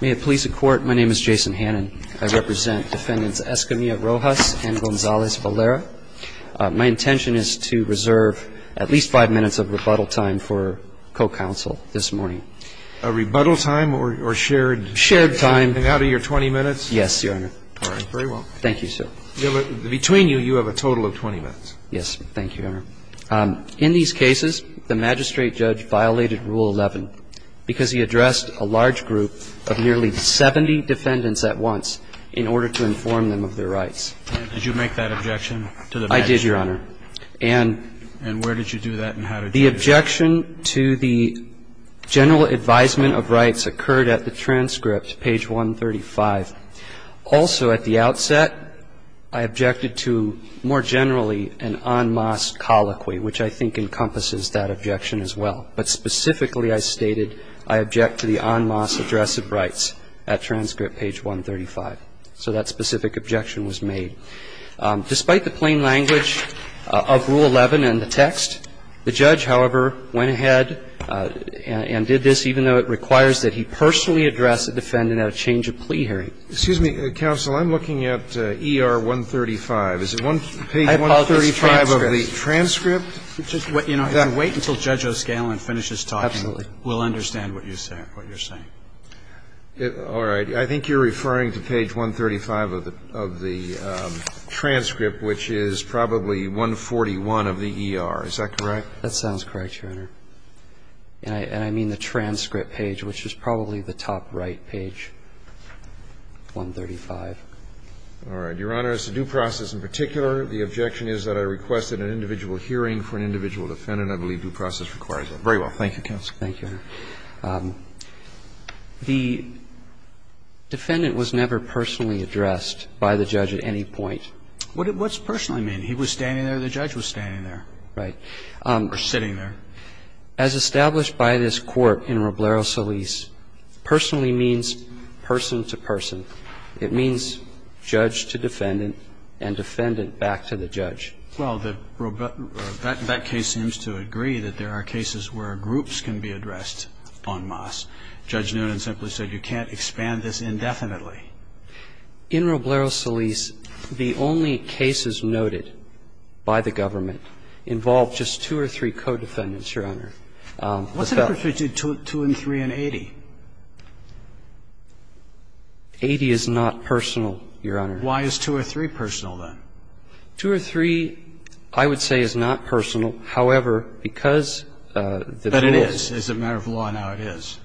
May it please the Court, my name is Jason Hannan. I represent Defendants Escamilla-Rojas and Gonzalez-Valera. My intention is to reserve at least five minutes of rebuttal time for co-counsel this morning. A rebuttal time or shared? Shared time. Out of your 20 minutes? Yes, Your Honor. All right. Very well. Thank you, sir. Yes. Thank you, Your Honor. In these cases, the magistrate judge violated Rule 11 because he addressed a large group of nearly 70 defendants at once in order to inform them of their rights. Did you make that objection to the magistrate? I did, Your Honor. And where did you do that and how did you do that? The objection to the general advisement of rights occurred at the transcript, page 135. Also, at the outset, I objected to, more generally, an en masse colloquy, which I think encompasses that objection as well. But specifically, I stated I object to the en masse address of rights at transcript, page 135. So that specific objection was made. Despite the plain language of Rule 11 and the text, the judge, however, went ahead and did this, I objected to the general address of the defendant at a change of plea hearing, even though it requires that he personally address the defendant at a change of plea hearing. Excuse me, counsel. I'm looking at ER 135. Is it page 135 of the transcript? You know, wait until Judge O'Scanlan finishes talking. Absolutely. We'll understand what you're saying. All right. I think you're referring to page 135 of the transcript, which is probably 141 of the ER. Is that correct? That sounds correct, Your Honor. And I mean the transcript page, which is probably the top right page, 135. All right. Your Honor, as to due process in particular, the objection is that I requested an individual hearing for an individual defendant. I believe due process requires that. Very well. Thank you, counsel. Thank you, Your Honor. The defendant was never personally addressed by the judge at any point. What does personally mean? He was standing there, the judge was standing there. Right. Or sitting there. As established by this Court in Roblero Solis, personally means person to person. It means judge to defendant and defendant back to the judge. Well, that case seems to agree that there are cases where groups can be addressed en masse. Judge Noonan simply said you can't expand this indefinitely. In Roblero Solis, the only cases noted by the government involve just two or three co-defendants, Your Honor. What's the difference between two and three and 80? 80 is not personal, Your Honor. Why is two or three personal, then? Two or three, I would say, is not personal. However, because the rules But it is. As a matter of law, now it is.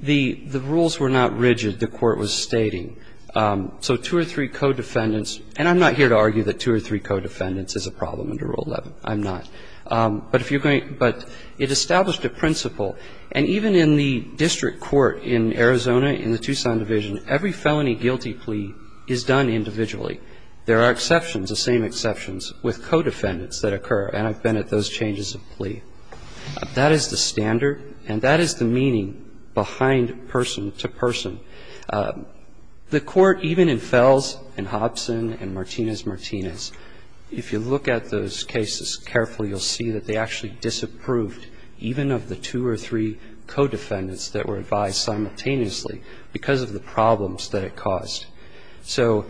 The rules were not rigid, the Court was stating. So two or three co-defendants, and I'm not here to argue that two or three co-defendants is a problem under Rule 11. I'm not. But if you're going to – but it established a principle. And even in the district court in Arizona, in the Tucson division, every felony guilty plea is done individually. There are exceptions, the same exceptions, with co-defendants that occur. And I've been at those changes of plea. That is the standard, and that is the meaning behind person to person. The Court, even in Fels and Hobson and Martinez-Martinez, if you look at those cases carefully, you'll see that they actually disapproved even of the two or three co-defendants that were advised simultaneously because of the problems that it caused. So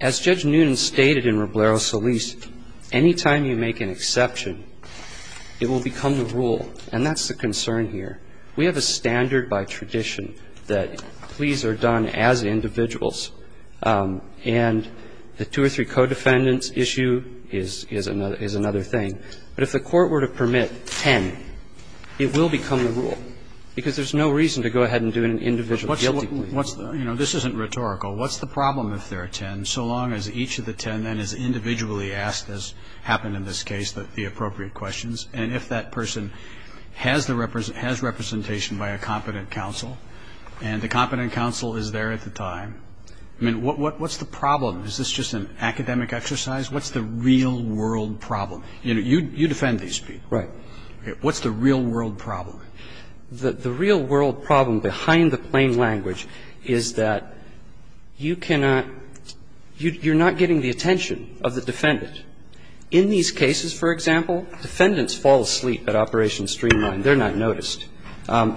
as Judge Newton stated in Roblero Solis, any time you make an exception, it will become the rule. And that's the concern here. We have a standard by tradition that pleas are done as individuals. And the two or three co-defendants issue is another thing. But if the Court were to permit ten, it will become the rule, because there's no reason to go ahead and do an individual guilty plea. And then that would be the standard by tradition. I was just going to say, this isn't rhetorical. What's the problem with their 10 so long as each of the 10 that is individually asked this happened in this case, the appropriate questions? And if that person has representation by a competent counsel, and the competent counsel is there at the time, what's the problem? Is this just an academic exercise? What's the real world problem? You defend these people. Right. What's the real world problem? The real world problem behind the plain language is that you cannot you're not getting the attention of the defendant. In these cases, for example, defendants fall asleep at Operation Streamline. They're not noticed.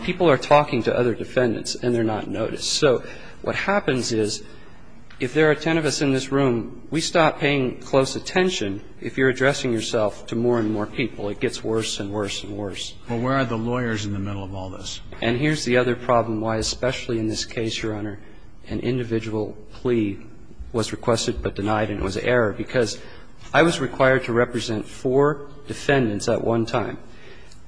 People are talking to other defendants, and they're not noticed. So what happens is if there are 10 of us in this room, we stop paying close attention. If you're addressing yourself to more and more people, it gets worse and worse and worse. But where are the lawyers in the middle of all this? And here's the other problem why, especially in this case, Your Honor, an individual plea was requested but denied, and it was an error, because I was required to represent four defendants at one time.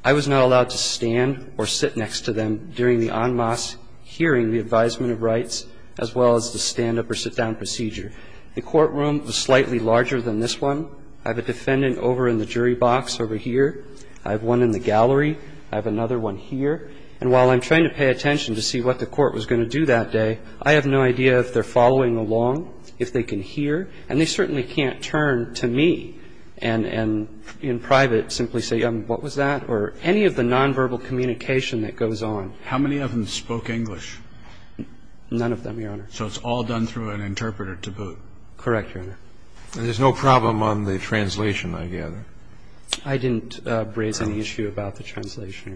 I was not allowed to stand or sit next to them during the en masse hearing, the advisement of rights, as well as the stand-up or sit-down procedure. The courtroom was slightly larger than this one. I have a defendant over in the jury box over here. I have one in the gallery. I have another one here. And while I'm trying to pay attention to see what the court was going to do that day, I have no idea if they're following along, if they can hear. And they certainly can't turn to me and in private simply say, what was that, or any of the nonverbal communication that goes on. How many of them spoke English? None of them, Your Honor. So it's all done through an interpreter to boot. Correct, Your Honor. And there's no problem on the translation, I gather. I didn't raise any issue about the translation,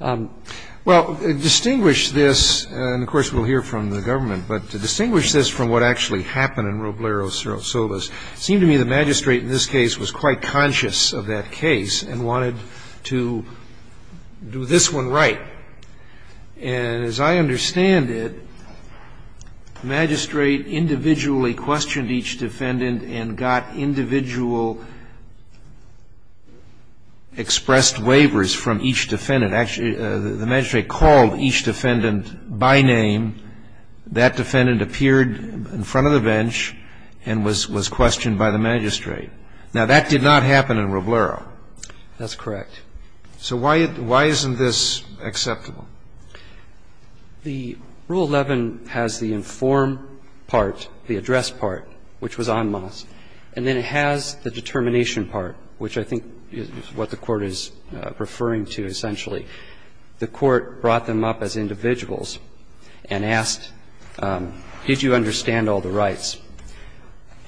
Your Honor. Well, to distinguish this, and of course we'll hear from the government, but to distinguish this from what actually happened in Roblero-Solas, it seemed to me the magistrate in this case was quite conscious of that case and wanted to do this one right. And as I understand it, the magistrate individually questioned each defendant and got individual expressed waivers from each defendant. Actually, the magistrate called each defendant by name. That defendant appeared in front of the bench and was questioned by the magistrate. Now, that did not happen in Roblero. That's correct. So why isn't this acceptable? The Rule 11 has the inform part, the address part, which was en masse. And then it has the determination part, which I think is what the Court is referring to essentially. The Court brought them up as individuals and asked, did you understand all the rights?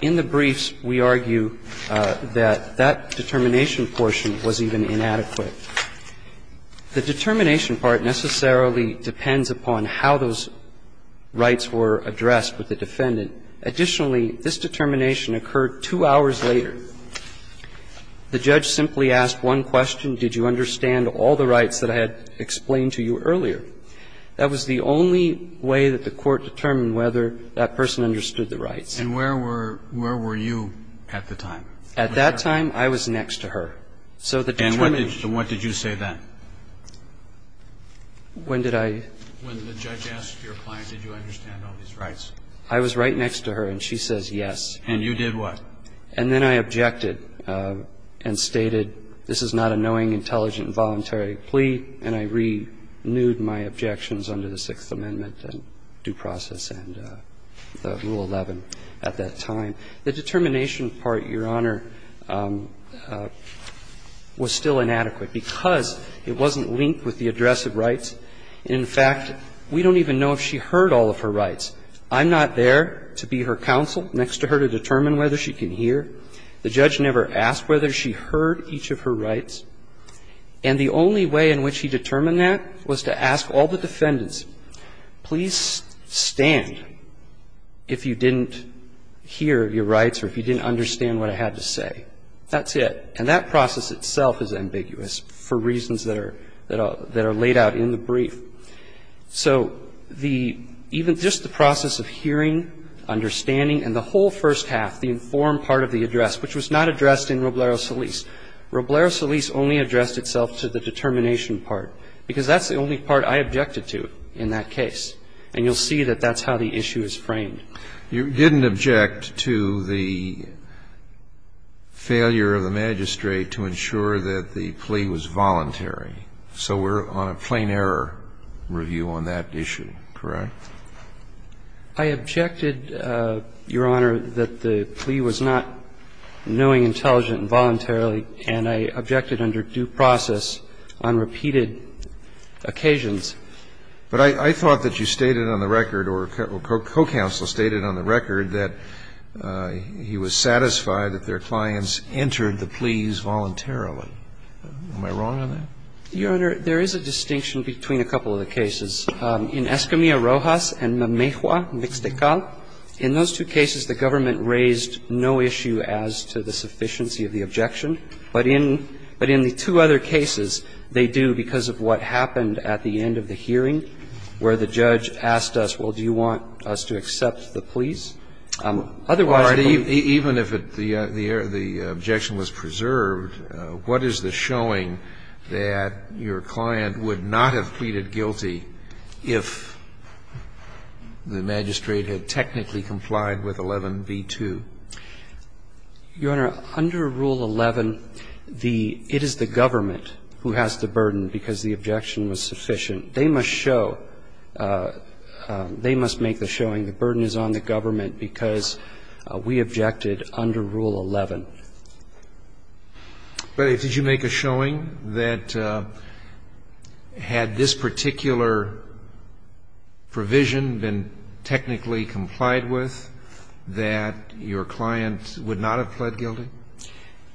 In the briefs, we argue that that determination portion was even inadequate. The determination part necessarily depends upon how those rights were addressed with the defendant. Additionally, this determination occurred two hours later. The judge simply asked one question, did you understand all the rights that I had explained to you earlier? That was the only way that the Court determined whether that person understood the rights. And where were you at the time? At that time, I was next to her. So the determination. And what did you say then? When did I? When the judge asked your client, did you understand all these rights? I was right next to her, and she says yes. And you did what? And then I objected and stated, this is not a knowing, intelligent, and voluntary plea, and I renewed my objections under the Sixth Amendment and due process and the Rule 11 at that time. The determination part, Your Honor, was still inadequate because it wasn't linked with the address of rights. In fact, we don't even know if she heard all of her rights. I'm not there to be her counsel next to her to determine whether she can hear. The judge never asked whether she heard each of her rights. And the only way in which he determined that was to ask all the defendants, please stand if you didn't hear your rights or if you didn't understand what I had to say. That's it. And that process itself is ambiguous for reasons that are laid out in the brief. So the even just the process of hearing, understanding, and the whole first half, the informed part of the address, which was not addressed in Roblero Solis. Roblero Solis only addressed itself to the determination part because that's the only part I objected to in that case. And you'll see that that's how the issue is framed. You didn't object to the failure of the magistrate to ensure that the plea was voluntary. So we're on a plain error review on that issue, correct? I objected, Your Honor, that the plea was not knowing, intelligent, and voluntarily, and I objected under due process on repeated occasions. But I thought that you stated on the record or co-counsel stated on the record that he was satisfied that their clients entered the pleas voluntarily. Am I wrong on that? Your Honor, there is a distinction between a couple of the cases. In Escamilla-Rojas and Mamejua v. Ixtecal, in those two cases, the government raised no issue as to the sufficiency of the objection. But in the two other cases, they do because of what happened at the end of the hearing where the judge asked us, well, do you want us to accept the pleas? Otherwise, the plea was voluntary. Even if the objection was preserved, what is the showing that your client would not have pleaded guilty if the magistrate had technically complied with 11b-2? Your Honor, under Rule 11, the – it is the government who has the burden because the objection was sufficient. They must show – they must make the showing the burden is on the government because we objected under Rule 11. But did you make a showing that had this particular provision been technically complied with, that your client would not have pled guilty?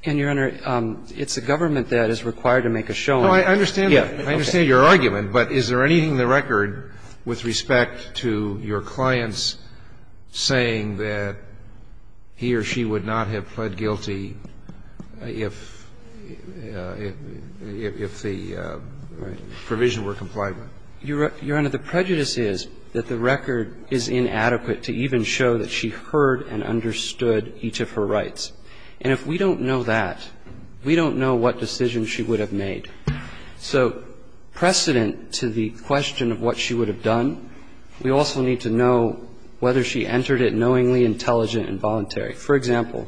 And, Your Honor, it's the government that is required to make a showing. No, I understand that. I understand your argument. But is there anything in the record with respect to your clients saying that he or she would not have pled guilty if the provision were complied with? Your Honor, the prejudice is that the record is inadequate to even show that she heard and understood each of her rights. And if we don't know that, we don't know what decision she would have made. So precedent to the question of what she would have done, we also need to know whether she entered it knowingly, intelligent, and voluntary. For example,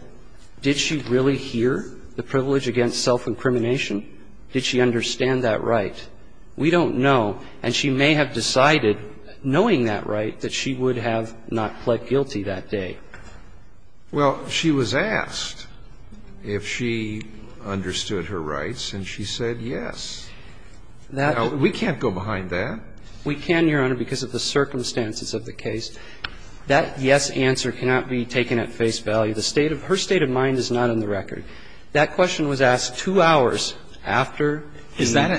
did she really hear the privilege against self-incrimination? Did she understand that right? We don't know. And she may have decided, knowing that right, that she would have not pled guilty that day. Well, she was asked if she understood her rights, and she said yes. Now, we can't go behind that. We can, Your Honor, because of the circumstances of the case. That yes answer cannot be taken at face value. The state of her state of mind is not in the record. That question was asked two hours after the meeting.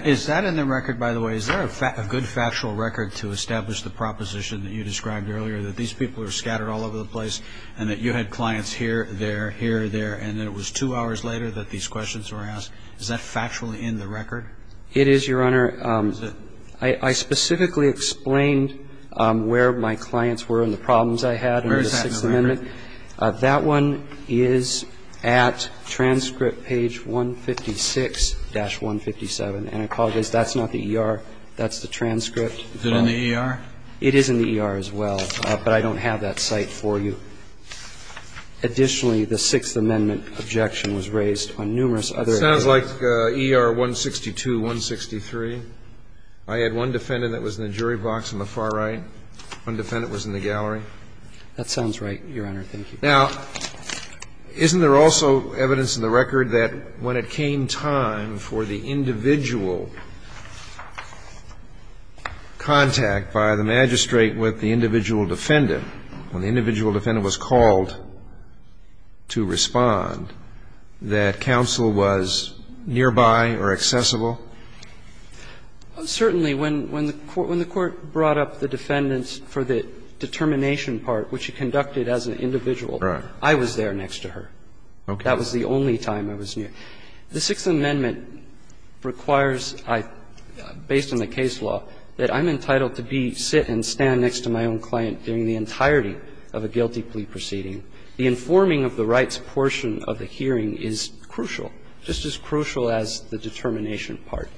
Is that in the record, by the way? Is there a good factual record to establish the proposition that you described earlier, that these people are scattered all over the place and that you had clients here, there, here, there, and then it was two hours later that these questions were asked? Is that factually in the record? It is, Your Honor. Is it? I specifically explained where my clients were and the problems I had under the Sixth Amendment. Where is that in the record? That one is at transcript page 156-157. And I apologize, that's not the ER. That's the transcript. Is it in the ER? It is in the ER as well, but I don't have that cite for you. Additionally, the Sixth Amendment objection was raised on numerous other cases. It sounds like ER 162, 163. I had one defendant that was in the jury box on the far right, one defendant was in the gallery. That sounds right, Your Honor. Thank you. Now, isn't there also evidence in the record that when it came time for the individual nearby or accessible? Certainly. When the Court brought up the defendants for the determination part, which you conducted as an individual, I was there next to her. Okay. That was the only time I was near. The Sixth Amendment requires, based on the case law, that I'm entitled to be, sit and stand next to my own client during the entirety of a guilty plea proceeding. The informing of the rights portion of the hearing is crucial, just as crucial as the determination part.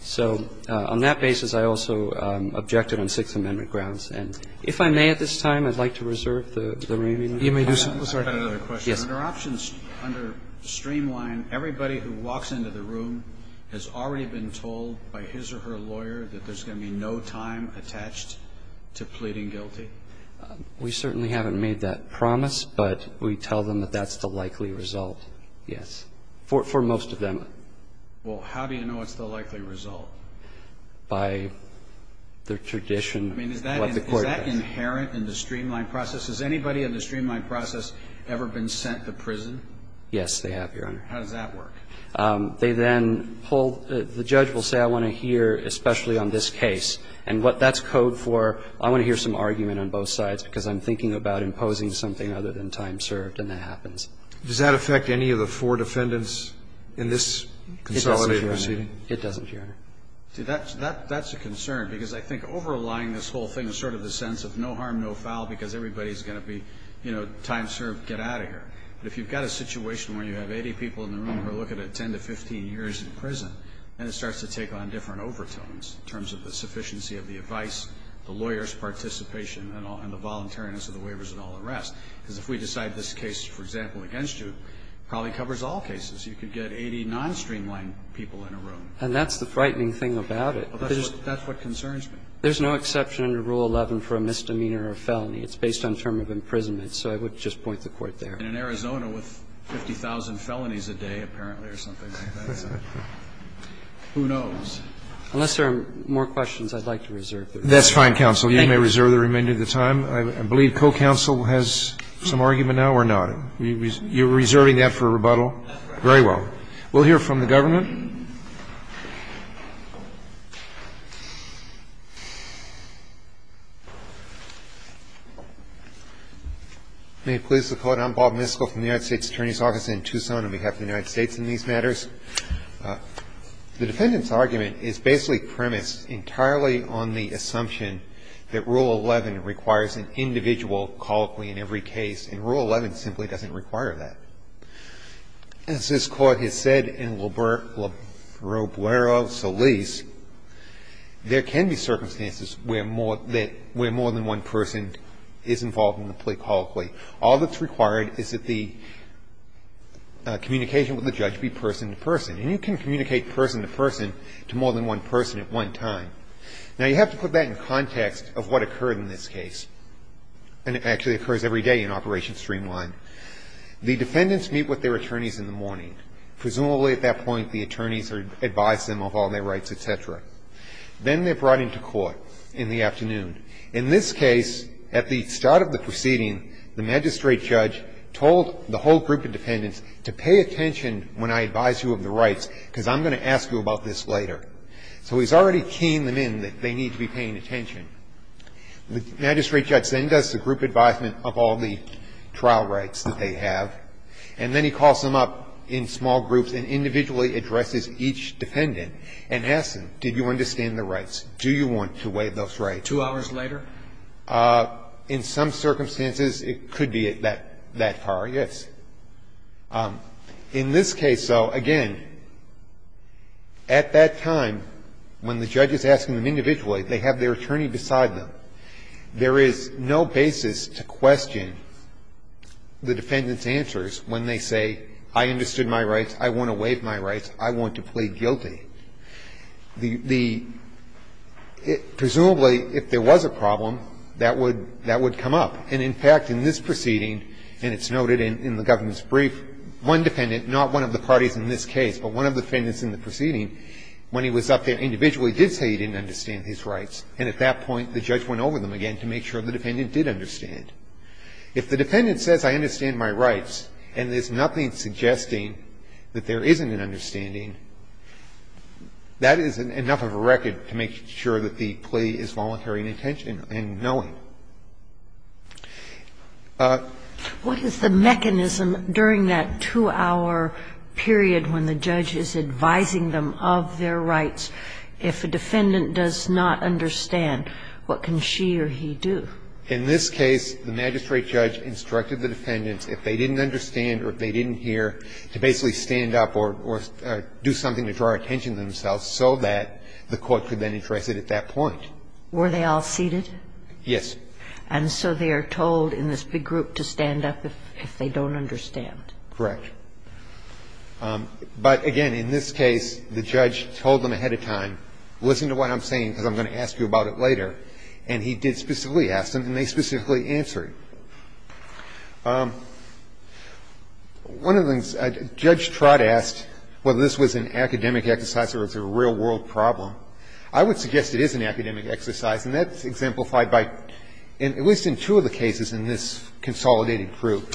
So on that basis, I also objected on Sixth Amendment grounds. And if I may at this time, I'd like to reserve the remaining time. You may do so. I have another question. Yes. Under options, under streamline, everybody who walks into the room has already been told by his or her lawyer that there's going to be no time attached to pleading guilty? We certainly haven't made that promise, but we tell them that that's the likely result, yes. For most of them. Well, how do you know it's the likely result? By their tradition. I mean, is that inherent in the streamline process? Has anybody in the streamline process ever been sent to prison? Yes, they have, Your Honor. How does that work? They then pull the judge will say I want to hear, especially on this case, and what I'm thinking about imposing something other than time served, and that happens. Does that affect any of the four defendants in this consolidated proceeding? It doesn't, Your Honor. See, that's a concern, because I think overlying this whole thing is sort of the sense of no harm, no foul, because everybody is going to be, you know, time served, get out of here. But if you've got a situation where you have 80 people in the room who are looking at 10 to 15 years in prison, then it starts to take on different overtones in terms of the sufficiency of the advice, the lawyer's participation, and the voluntariness of the waivers and all the rest. Because if we decide this case, for example, against you, it probably covers all cases. You could get 80 non-streamlined people in a room. And that's the frightening thing about it. That's what concerns me. There's no exception under Rule 11 for a misdemeanor or felony. It's based on term of imprisonment. So I would just point the court there. And in Arizona, with 50,000 felonies a day, apparently, or something like that, who knows? Unless there are more questions I'd like to reserve. Roberts. That's fine, counsel. Thank you. You may reserve the remainder of the time. I believe co-counsel has some argument now or not. You're reserving that for rebuttal? Very well. We'll hear from the government. May it please the Court. I'm Bob Miskell from the United States Attorney's Office in Tucson on behalf of the United States in these matters. The defendant's argument is basically premised entirely on the assumption that Rule 11 requires an individual colloquy in every case, and Rule 11 simply doesn't require that. As this Court has said in Lobero Solis, there can be circumstances where more than one person is involved in the plea colloquy. All that's required is that the communication with the judge be person-to-person. And you can communicate person-to-person to more than one person at one time. Now, you have to put that in context of what occurred in this case, and it actually occurs every day in Operation Streamline. The defendants meet with their attorneys in the morning. Presumably, at that point, the attorneys advise them of all their rights, et cetera. Then they're brought into court in the afternoon. In this case, at the start of the proceeding, the magistrate judge told the whole group of defendants to pay attention when I advise you of the rights, because I'm going to ask you about this later. So he's already keying them in that they need to be paying attention. The magistrate judge then does the group advisement of all the trial rights that they have, and then he calls them up in small groups and individually addresses each defendant and asks them, did you understand the rights? Do you want to waive those rights? Like two hours later? In some circumstances, it could be that far, yes. In this case, though, again, at that time, when the judge is asking them individually, they have their attorney beside them. There is no basis to question the defendant's answers when they say, I understood my rights, I want to waive my rights, I want to plead guilty. Presumably, if there was a problem, that would come up. And in fact, in this proceeding, and it's noted in the government's brief, one defendant, not one of the parties in this case, but one of the defendants in the proceeding, when he was up there individually, did say he didn't understand his rights. And at that point, the judge went over them again to make sure the defendant did understand. If the defendant says, I understand my rights, and there's nothing suggesting that there isn't an understanding, that is enough of a record to make sure that the plea is voluntary in intention and knowing. What is the mechanism during that two-hour period when the judge is advising them of their rights, if a defendant does not understand, what can she or he do? In this case, the magistrate judge instructed the defendants, if they didn't understand or if they didn't hear, to basically stand up or do something to draw attention to themselves so that the court could then address it at that point. Were they all seated? Yes. And so they are told in this big group to stand up if they don't understand. Correct. But again, in this case, the judge told them ahead of time, listen to what I'm saying because I'm going to ask you about it later. And he did specifically ask them, and they specifically answered. Now, there are a number of other cases where the defense counsel has made objections to the defense counsel's plea. One of the things, Judge Trott asked whether this was an academic exercise or if it was a real world problem. I would suggest it is an academic exercise, and that's exemplified by, at least in two of the cases in this consolidated proof.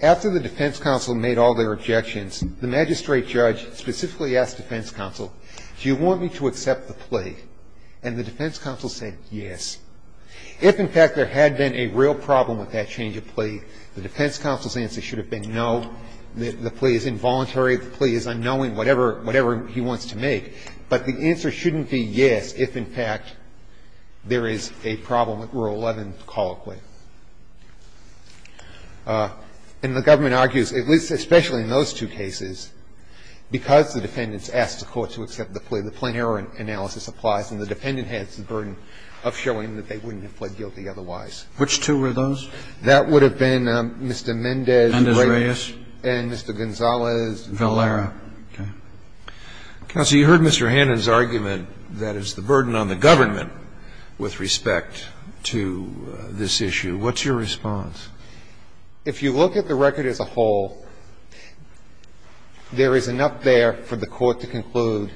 After the defense counsel made all their objections, the magistrate judge specifically asked the defense counsel, do you want me to accept the plea? And the defense counsel said yes. If, in fact, there had been a real problem with that change of plea, the defense counsel's answer should have been no, the plea is involuntary, the plea is unknowing, whatever he wants to make. But the answer shouldn't be yes if, in fact, there is a problem with Rule 11 colloquially. And the government argues, at least especially in those two cases, because the defendants asked the court to accept the plea, the plain error analysis applies, and the dependent has the burden of showing that they wouldn't have pled guilty otherwise. Which two were those? That would have been Mr. Mendez and Mr. Gonzales and Mr. Valera. Counsel, you heard Mr. Hannan's argument that it's the burden on the government with respect to this issue. What's your response? If you look at the record as a whole, there is enough there for the court to conclude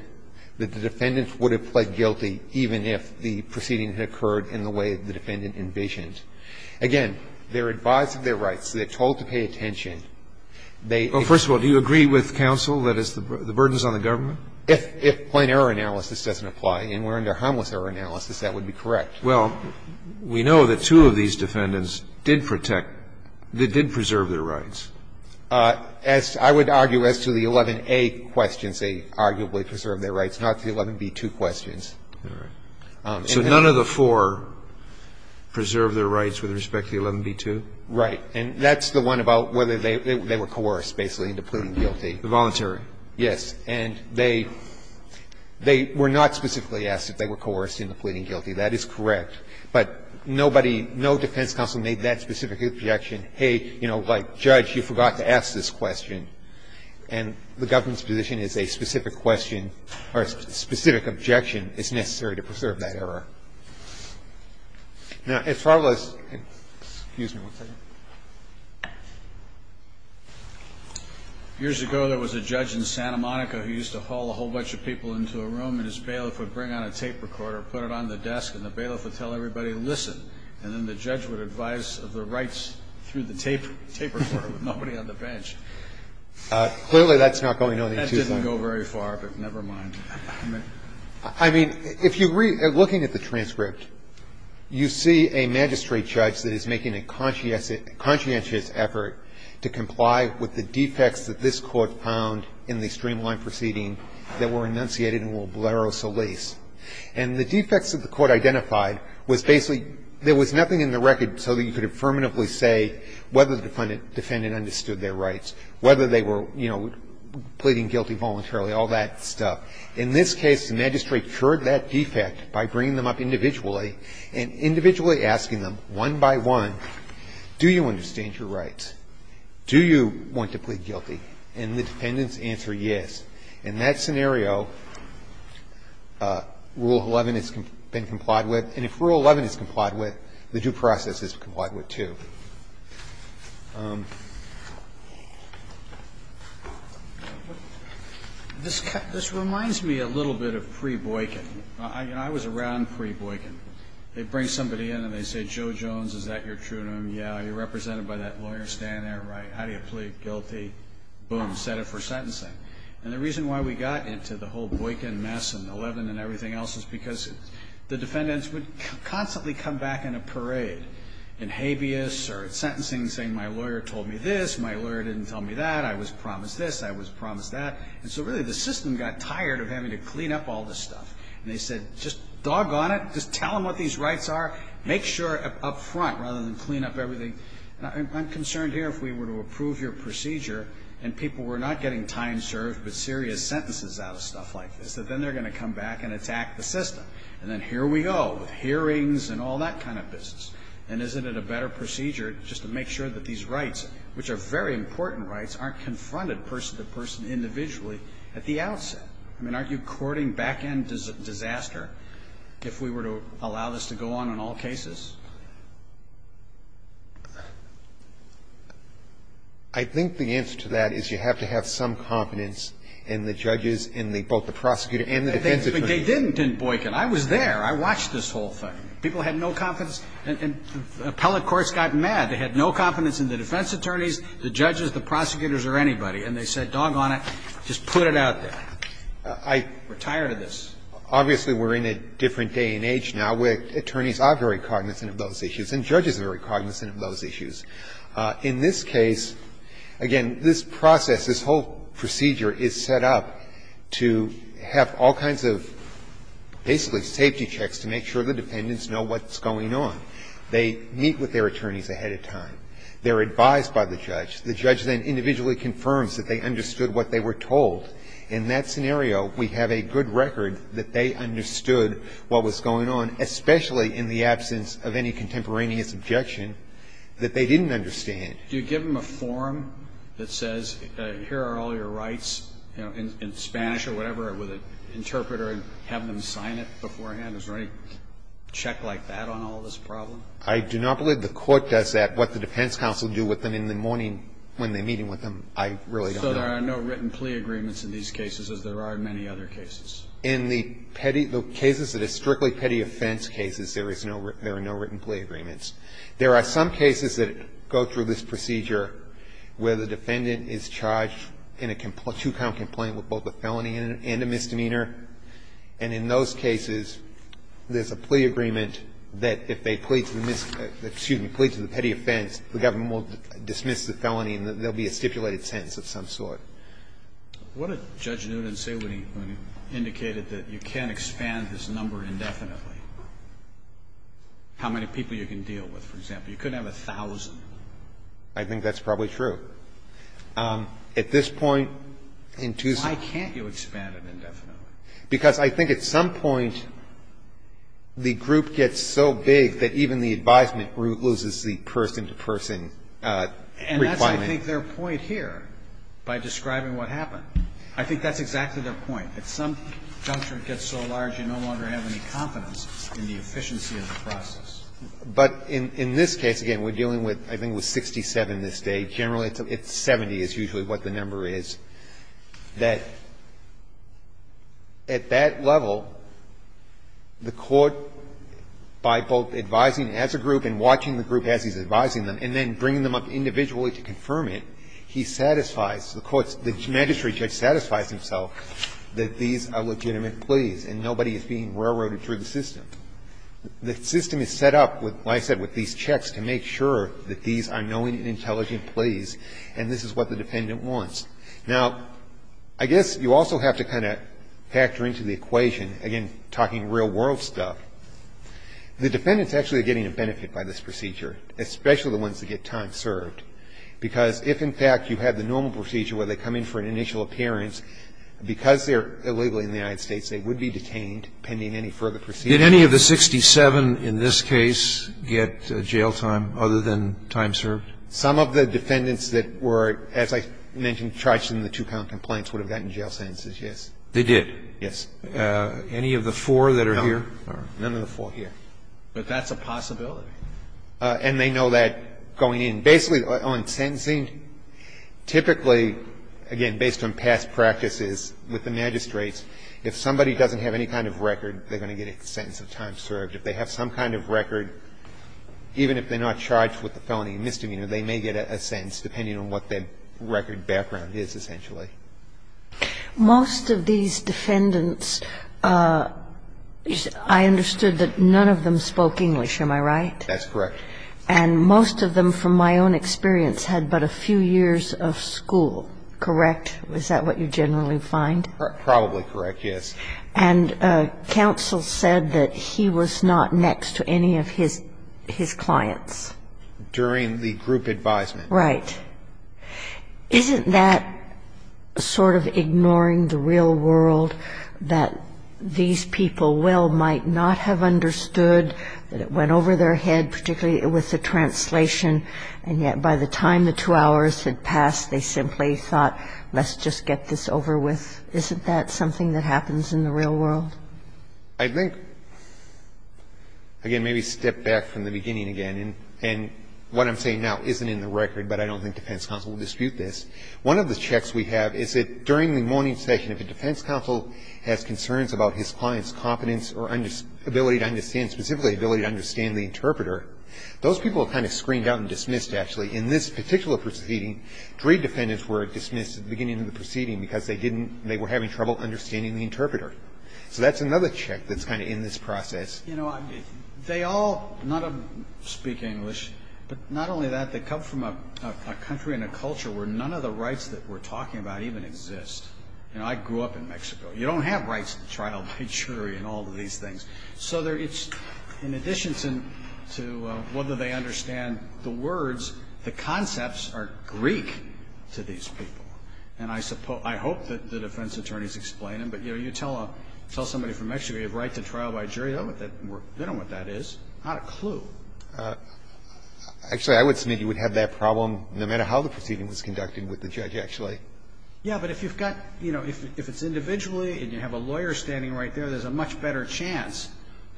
that the defendant would have pled guilty even if the proceeding had occurred in the way the defendant envisioned. Again, they're advised of their rights. They're told to pay attention. They agree. Well, first of all, do you agree with counsel that the burden is on the government? If plain error analysis doesn't apply and we're under harmless error analysis, that would be correct. Well, we know that two of these defendants did protect, that did preserve their rights. As I would argue as to the 11A questions, they arguably preserved their rights, not the 11B2 questions. All right. So none of the four preserved their rights with respect to the 11B2? Right. And that's the one about whether they were coerced basically into pleading guilty. The voluntary. Yes. And they were not specifically asked if they were coerced into pleading guilty. That is correct. But nobody, no defense counsel made that specific objection. Hey, you know, like, Judge, you forgot to ask this question. And the government's position is a specific question or a specific objection is necessary to preserve that error. Now, as far as the excuse me one second. Years ago, there was a judge in Santa Monica who used to haul a whole bunch of people into a room and his bailiff would bring on a tape recorder, put it on the desk, and the bailiff would tell everybody, listen. And then the judge would advise of the rights through the tape recorder, with nobody on the bench. Clearly, that's not going any too far. That didn't go very far, but never mind. I mean, if you read, looking at the transcript, you see a magistrate judge that is making a conscientious effort to comply with the defects that this court found in the streamlined proceeding that were enunciated in Olbrero Solis. And the defects that the court identified was basically there was nothing in the record so that you could affirmatively say whether the defendant understood their rights, whether they were, you know, pleading guilty voluntarily, all that stuff. In this case, the magistrate cured that defect by bringing them up individually and individually asking them one by one, do you understand your rights? Do you want to plead guilty? And the defendant's answer, yes. In that scenario, Rule 11 has been complied with. And if Rule 11 is complied with, the due process is complied with too. This reminds me a little bit of pre-Boykin. I was around pre-Boykin. They bring somebody in and they say, Joe Jones, is that your true name? Yeah. Are you represented by that lawyer standing there? Right. How do you plead guilty? Boom. Set it for sentencing. And the reason why we got into the whole Boykin mess and 11 and everything else is because the defendants would constantly come back in a parade in habeas or at sentencing saying my lawyer told me this, my lawyer didn't tell me that, I was promised this, I was promised that. And so really the system got tired of having to clean up all this stuff. And they said, just doggone it, just tell them what these rights are, make sure up front rather than clean up everything. I'm concerned here if we were to approve your procedure and people were not getting time served but serious sentences out of stuff like this, that then they're going to come back and attack the system. And then here we go with hearings and all that kind of business. And isn't it a better procedure just to make sure that these rights, which are very important rights, aren't confronted person to person individually at the outset? I mean, aren't you courting back-end disaster if we were to allow this to go on in all cases? I think the answer to that is you have to have some confidence in the judges and both the prosecutor and the defense attorneys. But they didn't in Boykin. I was there. I watched this whole thing. People had no confidence. And the appellate courts got mad. They had no confidence in the defense attorneys, the judges, the prosecutors or anybody. And they said, doggone it, just put it out there. We're tired of this. Obviously, we're in a different day and age now where attorneys are very cognizant of those issues and judges are very cognizant of those issues. In this case, again, this process, this whole procedure is set up to have all kinds of basically safety checks to make sure the dependents know what's going on. They meet with their attorneys ahead of time. They're advised by the judge. The judge then individually confirms that they understood what they were told. In that scenario, we have a good record that they understood what was going on, especially in the absence of any contemporaneous objection that they didn't understand. Do you give them a form that says here are all your rights in Spanish or whatever with an interpreter and have them sign it beforehand? Is there any check like that on all this problem? I do not believe the court does that. What the defense counsel do with them in the morning when they're meeting with them, I really don't know. So there are no written plea agreements in these cases as there are in many other cases? In the petty cases that are strictly petty offense cases, there are no written plea agreements. There are some cases that go through this procedure where the defendant is charged in a two-count complaint with both a felony and a misdemeanor, and in those cases there's a plea agreement that if they plead to the petty offense, the government will dismiss the felony and there will be a stipulated sentence of some sort. What did Judge Newton say when he indicated that you can't expand this number indefinitely? How many people you can deal with, for example? You couldn't have 1,000. I think that's probably true. At this point in Tuesday Why can't you expand it indefinitely? Because I think at some point the group gets so big that even the advisement group loses the person-to-person requirement. And that's, I think, their point here by describing what happened. I think that's exactly their point. At some juncture it gets so large you no longer have any confidence in the efficiency of the process. But in this case, again, we're dealing with, I think it was 67 this day. Generally, it's 70 is usually what the number is, that at that level, the court, by both advising as a group and watching the group as he's advising them and then bringing them up individually to confirm it, he satisfies, the magistrate judge satisfies himself that these are legitimate pleas and nobody is being railroaded through the system. The system is set up, like I said, with these checks to make sure that these are knowing and intelligent pleas and this is what the defendant wants. Now, I guess you also have to kind of factor into the equation, again, talking real-world stuff. The defendants actually are getting a benefit by this procedure, especially the ones that get time served, because if, in fact, you had the normal procedure where they come in for an initial appearance, because they're illegally in the United States, they would be detained pending any further proceedings. Did any of the 67 in this case get jail time other than time served? Some of the defendants that were, as I mentioned, charged in the two-pound complaints would have gotten jail sentences, yes. They did? Yes. Any of the four that are here? None. None of the four here. But that's a possibility. And they know that going in. Basically, on sentencing, typically, again, based on past practices with the magistrates, if somebody doesn't have any kind of record, they're going to get a sentence of time served. If they have some kind of record, even if they're not charged with the felony misdemeanor, they may get a sentence, depending on what their record background is, essentially. Most of these defendants, I understood that none of them spoke English. Am I right? That's correct. And most of them, from my own experience, had but a few years of school. Correct? Is that what you generally find? Probably correct, yes. And counsel said that he was not next to any of his clients. During the group advisement. Right. Isn't that sort of ignoring the real world, that these people well might not have understood that it went over their head, particularly with the translation, and yet by the time the two hours had passed, they simply thought, let's just get this over with? Isn't that something that happens in the real world? I think, again, maybe step back from the beginning again. And what I'm saying now isn't in the record, but I don't think defense counsel would dispute this. One of the checks we have is that during the morning session, if a defense counsel has concerns about his client's competence or ability to understand, specifically ability to understand the interpreter, those people are kind of screened out and Three defendants were dismissed at the beginning of the proceeding because they didn't they were having trouble understanding the interpreter. So that's another check that's kind of in this process. You know, they all, none of them speak English, but not only that, they come from a country and a culture where none of the rights that we're talking about even exist. You know, I grew up in Mexico. You don't have rights to trial by jury and all of these things. So in addition to whether they understand the words, the concepts are Greek to these people. And I hope that the defense attorneys explain them. But, you know, you tell somebody from Mexico you have a right to trial by jury, they don't know what that is. Not a clue. Actually, I would submit you would have that problem no matter how the proceeding was conducted with the judge, actually. Yeah, but if you've got, you know, if it's individually and you have a lawyer standing right there, there's a much better chance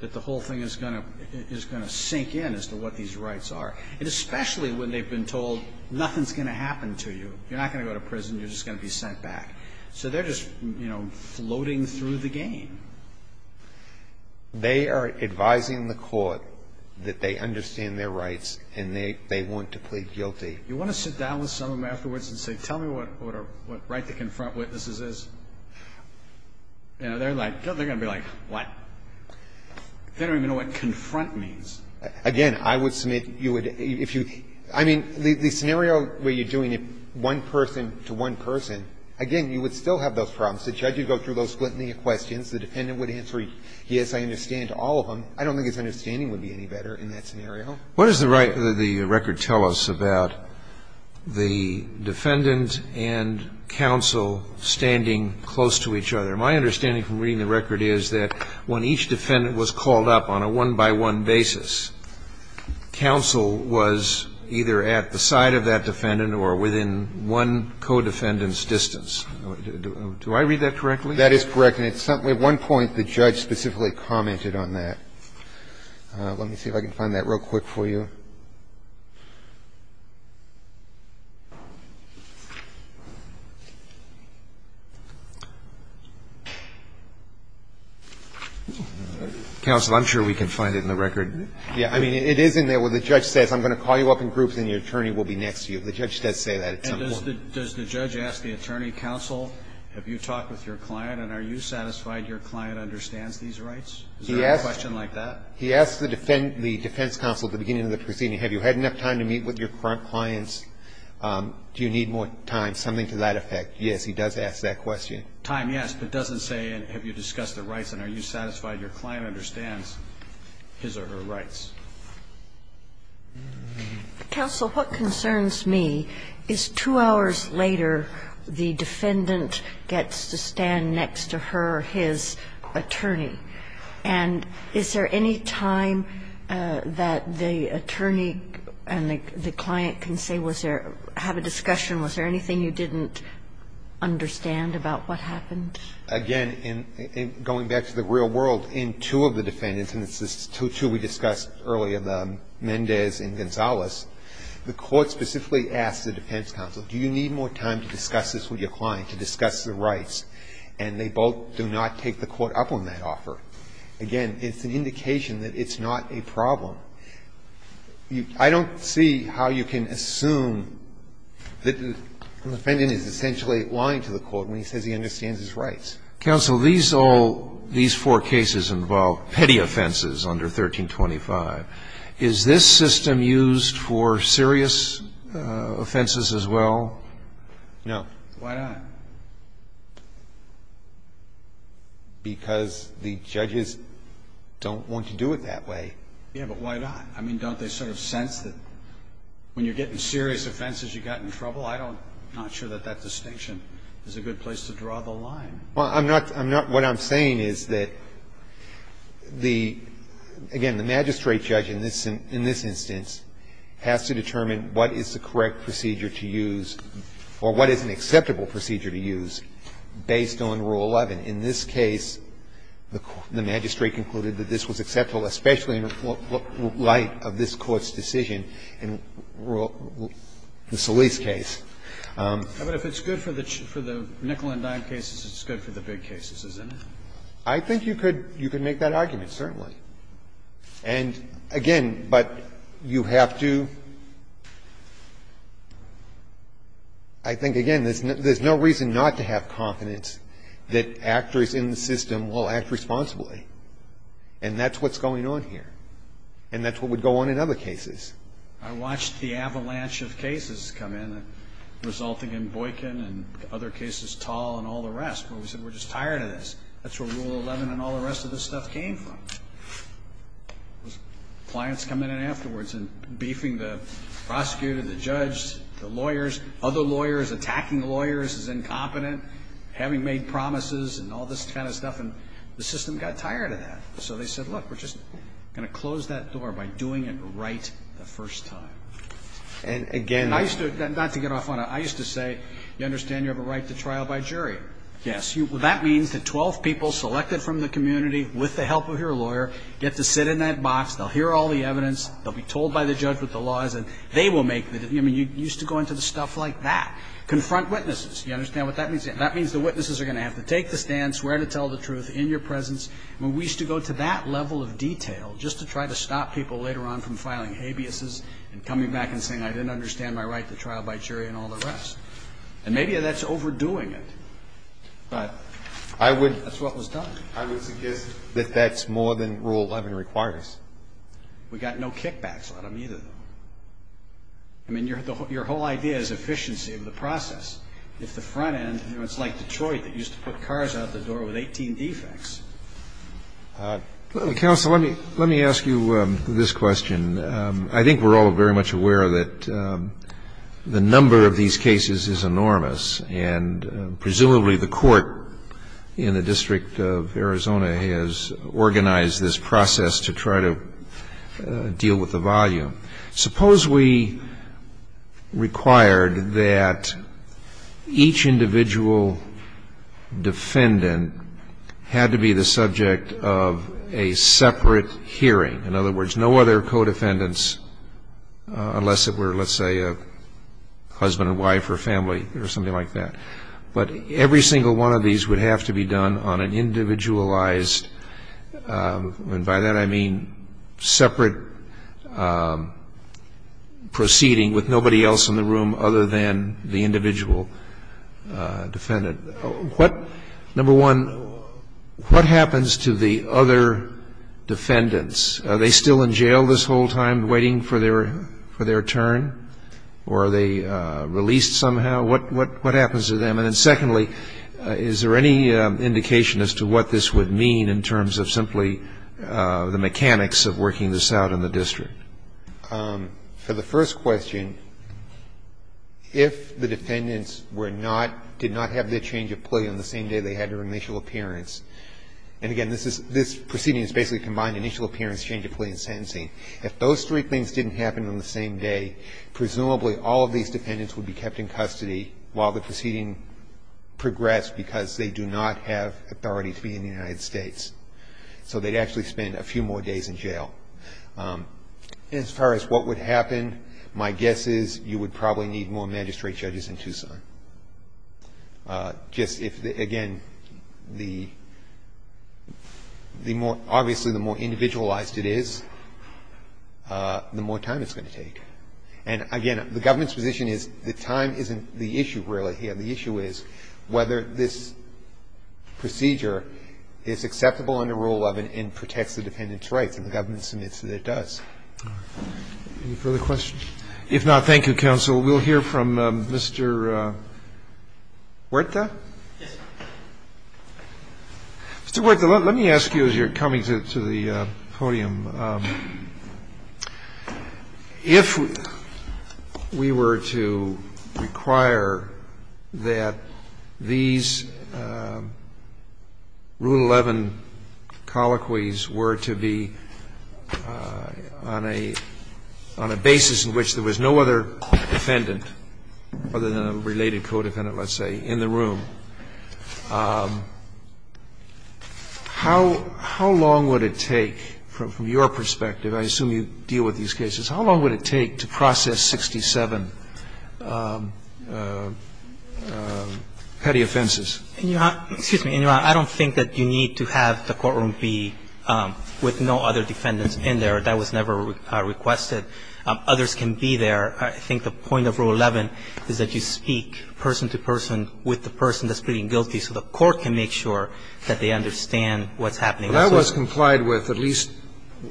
that the whole thing is going to sink in as to what these rights are. And especially when they've been told nothing's going to happen to you. You're not going to go to prison, you're just going to be sent back. So they're just, you know, floating through the game. They are advising the court that they understand their rights and they want to plead guilty. You want to sit down with some of them afterwards and say, tell me what right to confront witnesses is? You know, they're like, they're going to be like, what? They don't even know what confront means. Again, I would submit you would, if you, I mean, the scenario where you're doing it one person to one person, again, you would still have those problems. The judge would go through those split in the questions. The defendant would answer, yes, I understand all of them. What does the record tell us about the defendant and counsel standing close to each other? My understanding from reading the record is that when each defendant was called up on a one-by-one basis, counsel was either at the side of that defendant or within one co-defendant's distance. Do I read that correctly? That is correct. And at one point the judge specifically commented on that. Let me see if I can find that real quick for you. Counsel, I'm sure we can find it in the record. Yeah. I mean, it is in there where the judge says I'm going to call you up in groups and your attorney will be next to you. The judge does say that at some point. And does the judge ask the attorney, counsel, have you talked with your client and are you satisfied your client understands these rights? Is there a question like that? He asks the defense counsel at the beginning of the proceeding, have you had enough time to meet with your clients, do you need more time, something to that effect. Yes, he does ask that question. Time, yes, but doesn't say have you discussed the rights and are you satisfied your client understands his or her rights. Counsel, what concerns me is two hours later the defendant gets to stand next to her or his attorney. And is there any time that the attorney and the client can say was there, have a discussion, was there anything you didn't understand about what happened? Again, going back to the real world, in two of the defendants, and it's the two we discussed earlier, the Mendez and Gonzalez, the court specifically asks the defense counsel, do you need more time to discuss this with your client, to discuss the Again, it's an indication that it's not a problem. I don't see how you can assume that the defendant is essentially lying to the court when he says he understands his rights. Counsel, these all, these four cases involve petty offenses under 1325. Is this system used for serious offenses as well? No. Why not? Because the judges don't want to do it that way. Yeah, but why not? I mean, don't they sort of sense that when you're getting serious offenses you got in trouble? I'm not sure that that distinction is a good place to draw the line. Well, I'm not what I'm saying is that the, again, the magistrate judge in this instance has to determine what is the correct procedure to use or what is an acceptable procedure to use based on Rule 11. In this case, the magistrate concluded that this was acceptable, especially in light of this Court's decision in the Solis case. Yeah, but if it's good for the nickel-and-dime cases, it's good for the big cases, isn't it? I think you could make that argument, certainly. And, again, but you have to – I think, again, there's two different There's no reason not to have confidence that actors in the system will act responsibly. And that's what's going on here. And that's what would go on in other cases. I watched the avalanche of cases come in, resulting in Boykin and other cases, Tall and all the rest, where we said we're just tired of this. That's where Rule 11 and all the rest of this stuff came from. Clients come in afterwards and beefing the prosecutor, the judge, the lawyers, other lawyers, attacking lawyers as incompetent, having made promises and all this kind of stuff. And the system got tired of that. So they said, look, we're just going to close that door by doing it right the first time. And, again, I used to – not to get off on it. I used to say, you understand you have a right to trial by jury. Yes. That means that 12 people selected from the community with the help of your lawyer get to sit in that box. They'll hear all the evidence. They'll be told by the judge what the law is. And they will make the decision. I mean, you used to go into the stuff like that. Confront witnesses. You understand what that means? That means the witnesses are going to have to take the stance, where to tell the truth, in your presence. I mean, we used to go to that level of detail just to try to stop people later on from filing habeas and coming back and saying I didn't understand my right to trial by jury and all the rest. And maybe that's overdoing it. But that's what was done. I would suggest that that's more than Rule 11 requires. We got no kickbacks out of either of them. I mean, your whole idea is efficiency of the process. If the front end, you know, it's like Detroit that used to put cars out the door with 18 defects. Counsel, let me ask you this question. I think we're all very much aware that the number of these cases is enormous. And presumably the court in the District of Arizona has organized this process to try to deal with the volume. Suppose we required that each individual defendant had to be the subject of a separate hearing. In other words, no other co-defendants unless it were, let's say, a husband and wife or family or something like that. But every single one of these would have to be done on an individualized, and by that I mean separate proceeding with nobody else in the room other than the individual defendant. Number one, what happens to the other defendants? Are they still in jail this whole time waiting for their turn? Or are they released somehow? What happens to them? And secondly, is there any indication as to what this would mean in terms of simply the mechanics of working this out in the district? For the first question, if the defendants were not, did not have their change of plea on the same day they had their initial appearance, and again, this proceeding is basically a combined initial appearance, change of plea and sentencing. If those three things didn't happen on the same day, presumably all of these defendants would be kept in custody while the proceeding progressed because they do not have authority to be in the United States. So they'd actually spend a few more days in jail. As far as what would happen, my guess is you would probably need more magistrate judges in Tucson. Just if, again, obviously the more individualized it is, the more time it's going to take. And again, the government's position is that time isn't the issue really here. The issue is whether this procedure is acceptable under Rule 11 and protects the defendant's rights, and the government submits that it does. Roberts. Any further questions? If not, thank you, counsel. We'll hear from Mr. Huerta. Yes. Mr. Huerta, let me ask you as you're coming to the podium. If we were to require that these Rule 11 colloquies were to be on a basis in which there was no other defendant, other than a related codefendant, let's say, in the I assume you deal with these cases. How long would it take to process 67 petty offenses? Excuse me. I don't think that you need to have the courtroom be with no other defendants in there. That was never requested. Others can be there. I think the point of Rule 11 is that you speak person to person with the person that's pleading guilty so the court can make sure that they understand what's happening. Well, that was complied with at least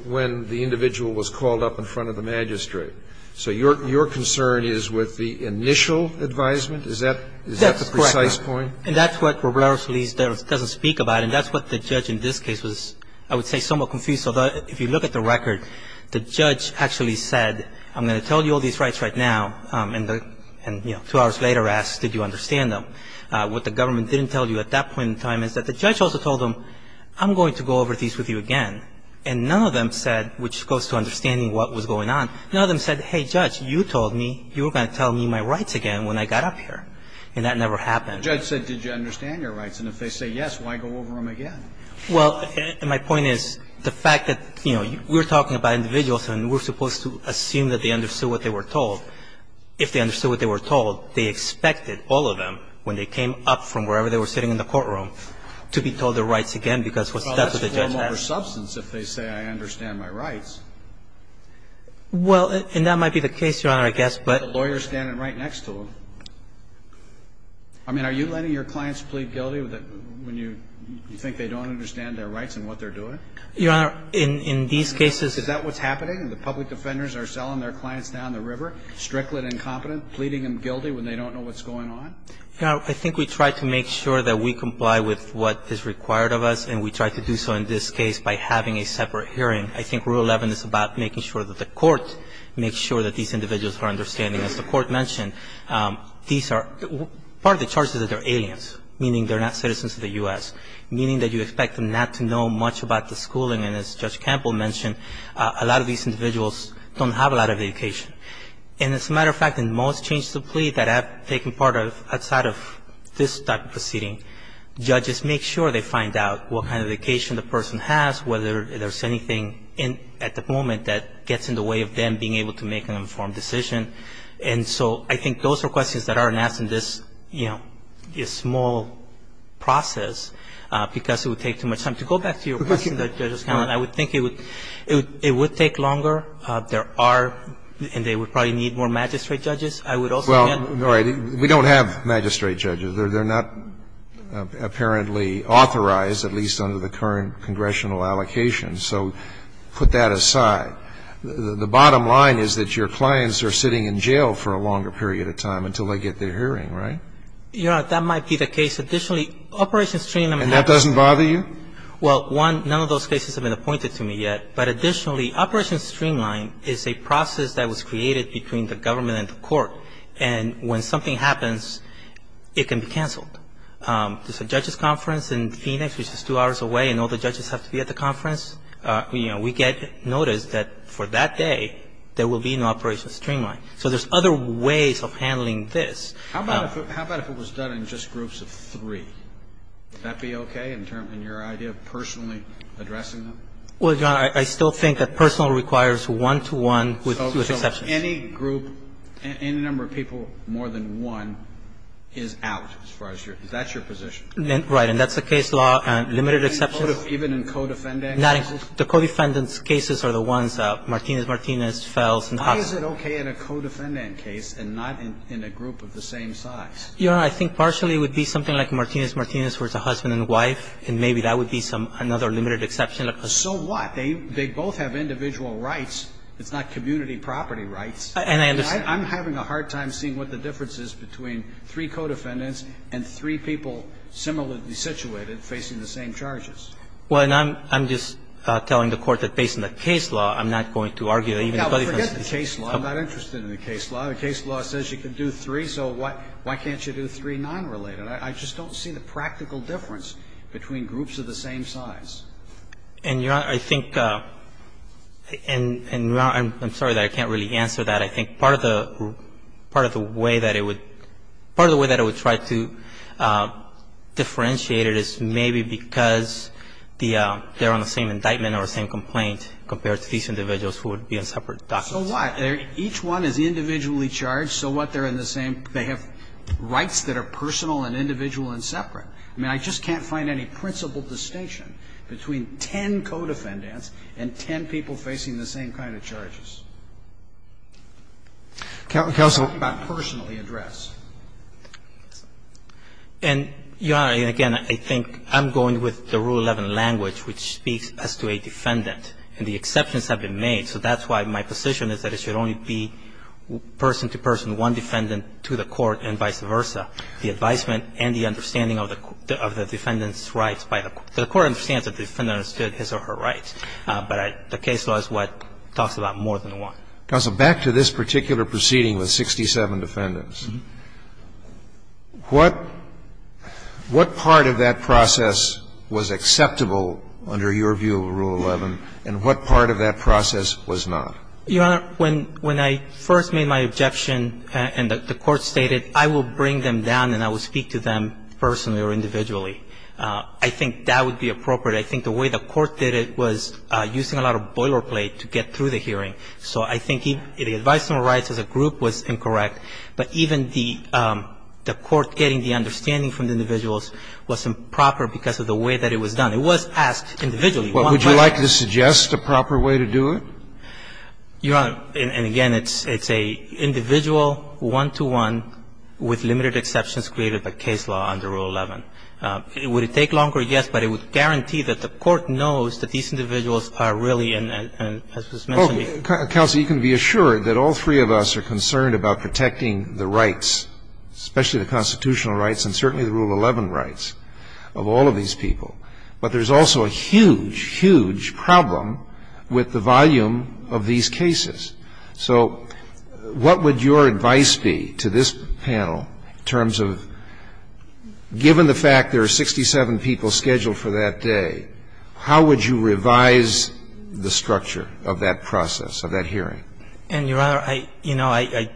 when the individual was called up in front of the magistrate. So your concern is with the initial advisement? Is that the precise point? Yes, correct. And that's what Robles-Ruiz doesn't speak about, and that's what the judge in this case was, I would say, somewhat confused. So if you look at the record, the judge actually said, I'm going to tell you all these rights right now, and, you know, two hours later asked, did you understand them? What the government didn't tell you at that point in time is that the judge also told them, I'm going to go over these with you again. And none of them said, which goes to understanding what was going on, none of them said, hey, judge, you told me you were going to tell me my rights again when I got up here. And that never happened. The judge said, did you understand your rights? And if they say yes, why go over them again? Well, my point is the fact that, you know, we're talking about individuals and we're supposed to assume that they understood what they were told. If they understood what they were told, they expected, all of them, when they came up from wherever they were sitting in the courtroom, to be told their rights again, because that's what the judge asked. Well, that's a form over substance if they say I understand my rights. Well, and that might be the case, Your Honor, I guess, but the lawyer is standing right next to them. I mean, are you letting your clients plead guilty when you think they don't understand their rights and what they're doing? Your Honor, in these cases Is that what's happening? The public defenders are selling their clients down the river, strickling incompetent, pleading them guilty when they don't know what's going on? Your Honor, I think we try to make sure that we comply with what is required of us, and we try to do so in this case by having a separate hearing. I think Rule 11 is about making sure that the court makes sure that these individuals are understanding. As the court mentioned, these are part of the charges are that they're aliens, meaning they're not citizens of the U.S., meaning that you expect them not to know much about the schooling. And as Judge Campbell mentioned, a lot of these individuals don't have a lot of education. And as a matter of fact, in most changes of plea that have taken part outside of this type of proceeding, judges make sure they find out what kind of education the person has, whether there's anything at the moment that gets in the way of them being able to make an informed decision. And so I think those are questions that aren't asked in this, you know, small process because it would take too much time. To go back to your question, Judge Campbell, I would think it would take longer. There are and they would probably need more magistrate judges. I would also think that. Well, all right. We don't have magistrate judges. They're not apparently authorized, at least under the current congressional allocations. So put that aside. The bottom line is that your clients are sitting in jail for a longer period of time until they get their hearing, right? Your Honor, that might be the case. Additionally, Operation Stringing them out. And that doesn't bother you? Well, one, none of those cases have been appointed to me yet. But additionally, Operation Streamline is a process that was created between the government and the court. And when something happens, it can be canceled. There's a judge's conference in Phoenix, which is two hours away, and all the judges have to be at the conference. You know, we get notice that for that day there will be no Operation Streamline. So there's other ways of handling this. How about if it was done in just groups of three? Would that be okay in your idea of personally addressing them? Well, Your Honor, I still think that personal requires one-to-one with exceptions. So any group, any number of people more than one is out as far as your – that's your position? Right. And that's a case law. Limited exceptions. Even in co-defendant cases? The co-defendant's cases are the ones, Martinez-Martinez, Fels, and Hoffman. How is it okay in a co-defendant case and not in a group of the same size? Your Honor, I think partially it would be something like Martinez-Martinez versus a husband and wife, and maybe that would be some – another limited exception. So what? They both have individual rights. It's not community property rights. And I understand. I'm having a hard time seeing what the difference is between three co-defendants and three people similarly situated facing the same charges. Well, and I'm just telling the Court that based on the case law, I'm not going to argue that even the co-defendants – Forget the case law. I'm not interested in the case law. The case law says you can do three, so why can't you do three nonrelated? I just don't see the practical difference between groups of the same size. And, Your Honor, I think – and, Your Honor, I'm sorry that I can't really answer that. I think part of the way that it would – part of the way that it would try to differentiate it is maybe because they're on the same indictment or the same complaint compared to these individuals who would be on separate documents. Each one is individually charged. So what? They're not there in the same – they have rights that are personal and individual and separate. I mean, I just can't find any principle distinction between ten co-defendants and ten people facing the same kind of charges. I'm talking about personally addressed. And, Your Honor, again, I think I'm going with the Rule 11 language, which speaks as to a defendant. And the exceptions have been made, so that's why my position is that it should only be person-to-person, one defendant to the court and vice versa. The advisement and the understanding of the defendant's rights by the court – the court understands that the defendant understood his or her rights. But the case law is what talks about more than one. Counsel, back to this particular proceeding with 67 defendants. What part of that process was acceptable under your view of Rule 11, and what part of that process was not? Your Honor, when – when I first made my objection and the court stated I will bring them down and I will speak to them personally or individually, I think that would be appropriate. I think the way the court did it was using a lot of boilerplate to get through the hearing. So I think the advisement of rights as a group was incorrect, but even the court getting the understanding from the individuals was improper because of the way that it was done. It was asked individually. Would you like to suggest a proper way to do it? Your Honor, and again, it's a individual one-to-one with limited exceptions created by case law under Rule 11. Would it take longer? Yes, but it would guarantee that the court knows that these individuals are really in – as was mentioned before. Counsel, you can be assured that all three of us are concerned about protecting the rights, especially the constitutional rights and certainly the Rule 11 rights, of all of these people. But there's also a huge, huge problem with the volume of these cases. So what would your advice be to this panel in terms of given the fact there are 67 people scheduled for that day, how would you revise the structure of that process, of that hearing? And, Your Honor, I – you know, I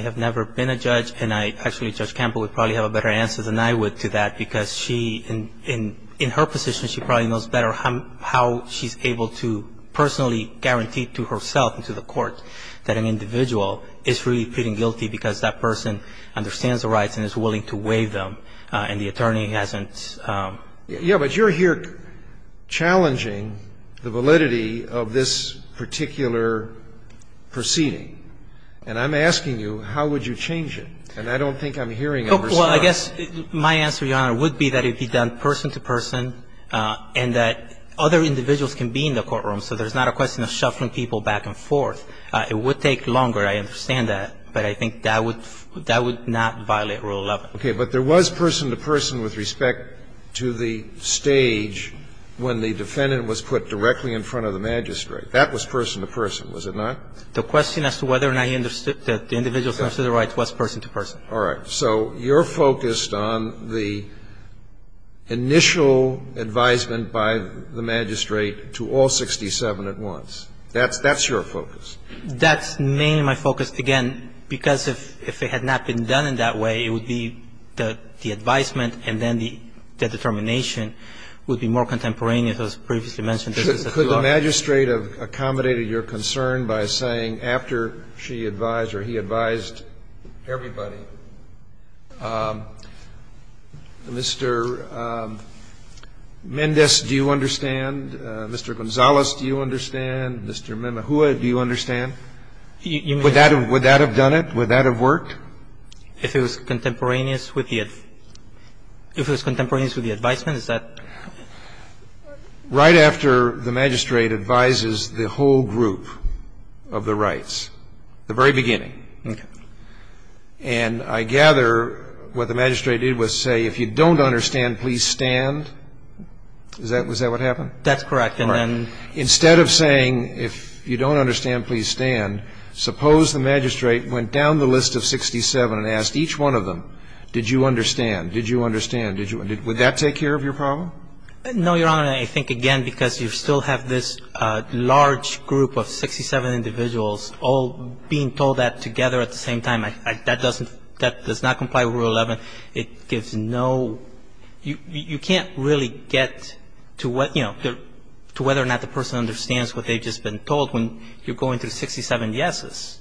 have never been a judge and I – actually, Judge Campbell would probably have a better answer than I would to that because she – in her position, she probably knows better how she's able to personally guarantee to herself and to the court that an individual is really pleading guilty because that person understands the rights and is willing to waive them and the attorney hasn't – Yeah, but you're here challenging the validity of this particular proceeding. And I'm asking you, how would you change it? And I don't think I'm hearing a response. Well, I guess my answer, Your Honor, would be that it be done person to person and that other individuals can be in the courtroom, so there's not a question of shuffling people back and forth. It would take longer, I understand that, but I think that would – that would not violate Rule 11. Okay. But there was person to person with respect to the stage when the defendant was put directly in front of the magistrate. That was person to person, was it not? The question as to whether or not he understood that the individual understood the rights was person to person. All right. So you're focused on the initial advisement by the magistrate to all 67 at once. That's your focus. That's mainly my focus, again, because if it had not been done in that way, it would be the advisement and then the determination would be more contemporaneous as previously mentioned. Could the magistrate have accommodated your concern by saying after she advised or he advised everybody, Mr. Mendez, do you understand? Mr. Gonzalez, do you understand? Mr. Menehua, do you understand? Would that have done it? Would that have worked? If it was contemporaneous with the – if it was contemporaneous with the advisement, is that? All right. Right after the magistrate advises the whole group of the rights, the very beginning. Okay. And I gather what the magistrate did was say if you don't understand, please stand. Is that what happened? That's correct. All right. And then instead of saying if you don't understand, please stand, suppose the magistrate went down the list of 67 and asked each one of them, did you understand? Did you understand? Would that take care of your problem? No, Your Honor. I think, again, because you still have this large group of 67 individuals all being told that together at the same time. That doesn't – that does not comply with Rule 11. It gives no – you can't really get to what – you know, to whether or not the person understands what they've just been told when you're going through 67 yeses.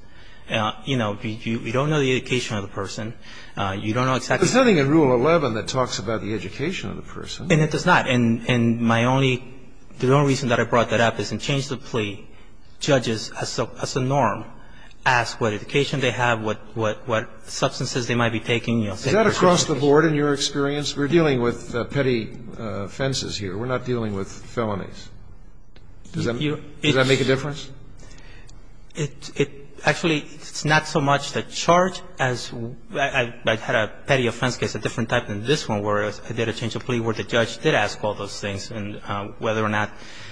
You know, you don't know the education of the person. You don't know exactly what's going on. There's nothing in Rule 11 that talks about the education of the person. And it does not. And my only – the only reason that I brought that up is in change of plea, judges as a norm ask what education they have, what substances they might be taking. Is that across the board in your experience? We're dealing with petty offenses here. We're not dealing with felonies. Does that make a difference? Actually, it's not so much the charge as – I had a petty offense case, a different type than this one, where I did a change of plea where the judge did ask all those things and whether or not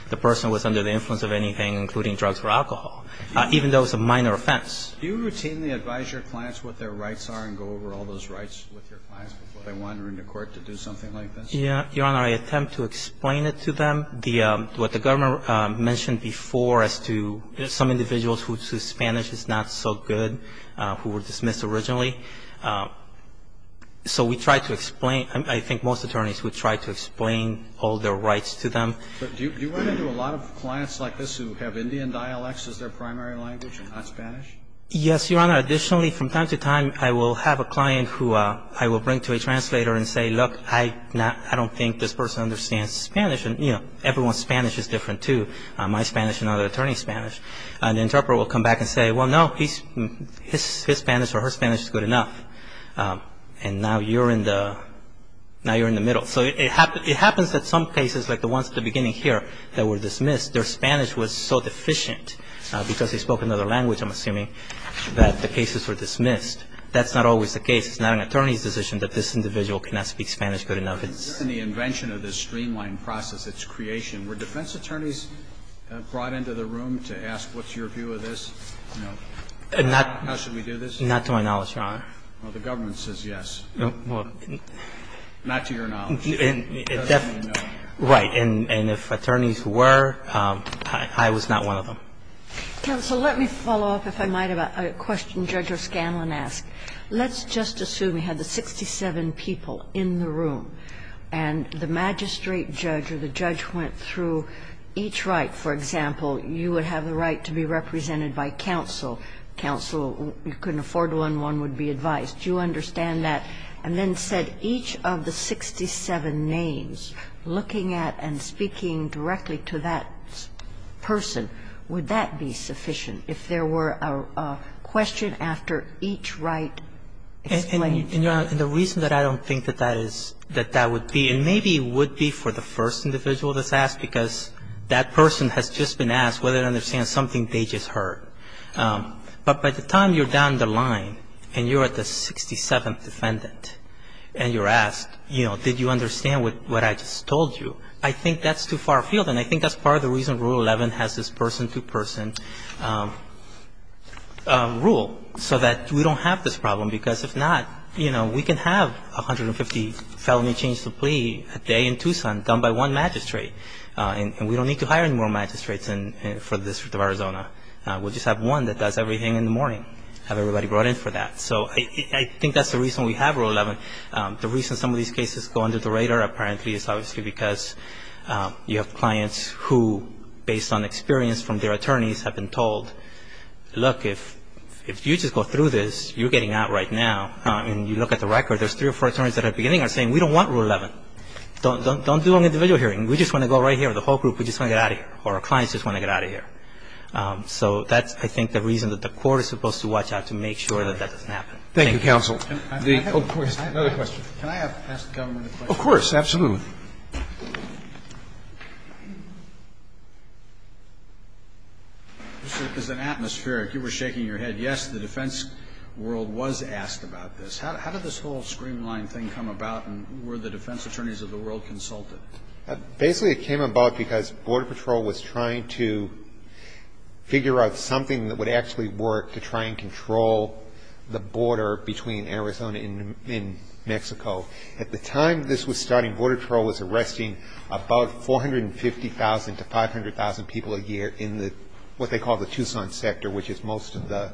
the person was under the influence of anything, including drugs or alcohol, even though it was a minor offense. Do you routinely advise your clients what their rights are and go over all those rights with your clients before they wander into court to do something like this? Yeah. Your Honor, I attempt to explain it to them. The – what the government mentioned before as to some individuals whose Spanish is not so good who were dismissed originally. So we try to explain – I think most attorneys would try to explain all their rights to them. But do you run into a lot of clients like this who have Indian dialects as their primary language and not Spanish? Yes, Your Honor. Additionally, from time to time, I will have a client who I will bring to a translator and say, look, I don't think this person understands Spanish. And, you know, everyone's Spanish is different, too, my Spanish and other attorneys' Spanish. An interpreter will come back and say, well, no, his Spanish or her Spanish is good enough. And now you're in the – now you're in the middle. So it happens that some cases, like the ones at the beginning here, that were dismissed, their Spanish was so deficient because they spoke another language, I'm assuming, that the cases were dismissed. That's not always the case. It's not an attorney's decision that this individual cannot speak Spanish good enough. And so that's not something that's in the current process. And what I'm saying is that there's a difference. In the invention of this streamlined process, its creation, were defense attorneys brought into the room to ask, what's your view of this? No. And not to my knowledge, Your Honor. Well, the government says yes. Not to your knowledge. It doesn't mean no. Right. And if attorneys were, I was not one of them. Counsel, let me follow up, if I might, about a question Judge O'Scanlan asked. Let's just assume you had the 67 people in the room, and the magistrate judge or the judge went through each right. For example, you would have the right to be represented by counsel. Counsel, you couldn't afford one, one would be advised. Do you understand that? And then said each of the 67 names, looking at and speaking directly to that person, would that be sufficient if there were a question after each right explained? And, Your Honor, the reason that I don't think that that is, that that would be, and maybe it would be for the first individual that's asked, because that person has just been asked whether they understand something they just heard. But by the time you're down the line and you're at the 67th defendant and you're asked, you know, did you understand what I just told you, I think that's too far afield. And I think that's part of the reason Rule 11 has this person-to-person rule, so that we don't have this problem. Because if not, you know, we can have 150 felony change to plea a day in Tucson done by one magistrate. And we don't need to hire any more magistrates for the District of Arizona. We'll just have one that does everything in the morning. Have everybody brought in for that. So I think that's the reason we have Rule 11. The reason some of these cases go under the radar, apparently, is obviously because you have clients who, based on experience from their attorneys, have been told, look, if you just go through this, you're getting out right now. And you look at the record, there's three or four attorneys that at the beginning are saying, we don't want Rule 11. Don't do an individual hearing. We just want to go right here. The whole group, we just want to get out of here. Or our clients just want to get out of here. So that's, I think, the reason that the court is supposed to watch out, to make sure that that doesn't happen. Thank you. Thank you, Counsel. Another question. Can I ask the government a question? Of course. Absolutely. This is an atmospheric. You were shaking your head. Yes, the defense world was asked about this. How did this whole screen line thing come about, and were the defense attorneys of the world consulted? Basically, it came about because Border Patrol was trying to figure out something that would actually work to try and control the border between Arizona and Mexico. At the time this was starting, Border Patrol was arresting about 450,000 to 500,000 people a year in what they call the Tucson sector, which is most of the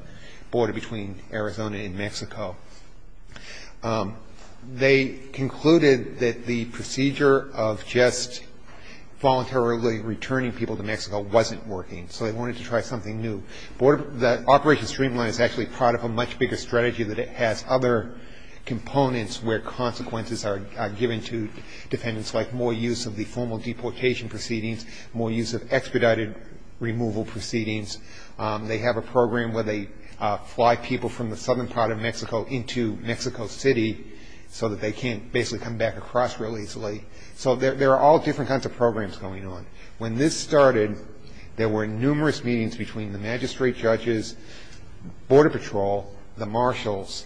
border between Arizona and Mexico. They concluded that the procedure of just voluntarily returning people to Mexico wasn't working, so they wanted to try something new. The Operation Streamline is actually part of a much bigger strategy that has other components where consequences are given to defendants, like more use of the formal deportation proceedings, more use of expedited removal proceedings. They have a program where they fly people from the southern part of Mexico into Mexico City so that they can't basically come back across real easily. So there are all different kinds of programs going on. When this started, there were numerous meetings between the magistrate judges, Border Patrol, the marshals,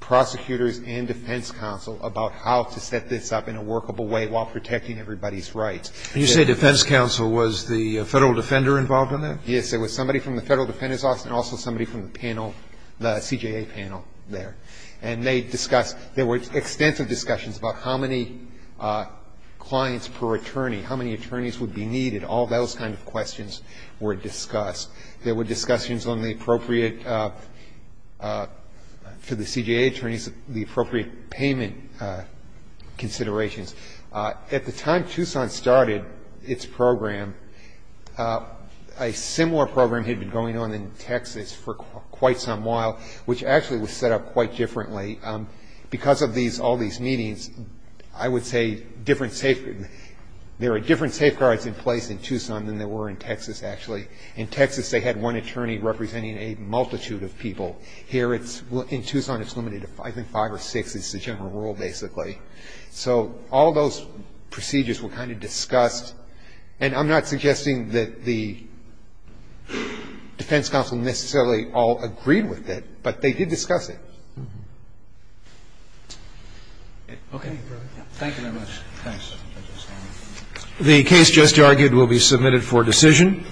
prosecutors, and defense counsel about how to set this up in a workable way while protecting everybody's rights. And you say defense counsel. Was the Federal Defender involved in that? Yes, there was somebody from the Federal Defender's Office and also somebody from the panel, the CJA panel there. And they discussed, there were extensive discussions about how many clients per attorney, how many attorneys would be needed. All those kinds of questions were discussed. There were discussions on the appropriate, for the CJA attorneys, the appropriate payment considerations. At the time Tucson started its program, a similar program had been going on in Texas for quite some while, which actually was set up quite differently. Because of these, all these meetings, I would say different, there are different safeguards in place in Tucson than there were in Texas, actually. In Texas, they had one attorney representing a multitude of people. Here it's, in Tucson, it's limited to, I think, five or six is the general rule, basically. So all those procedures were kind of discussed. And I'm not suggesting that the defense counsel necessarily all agreed with it, but they did discuss it. Okay. Thank you very much. Thanks. The case just argued will be submitted for decision.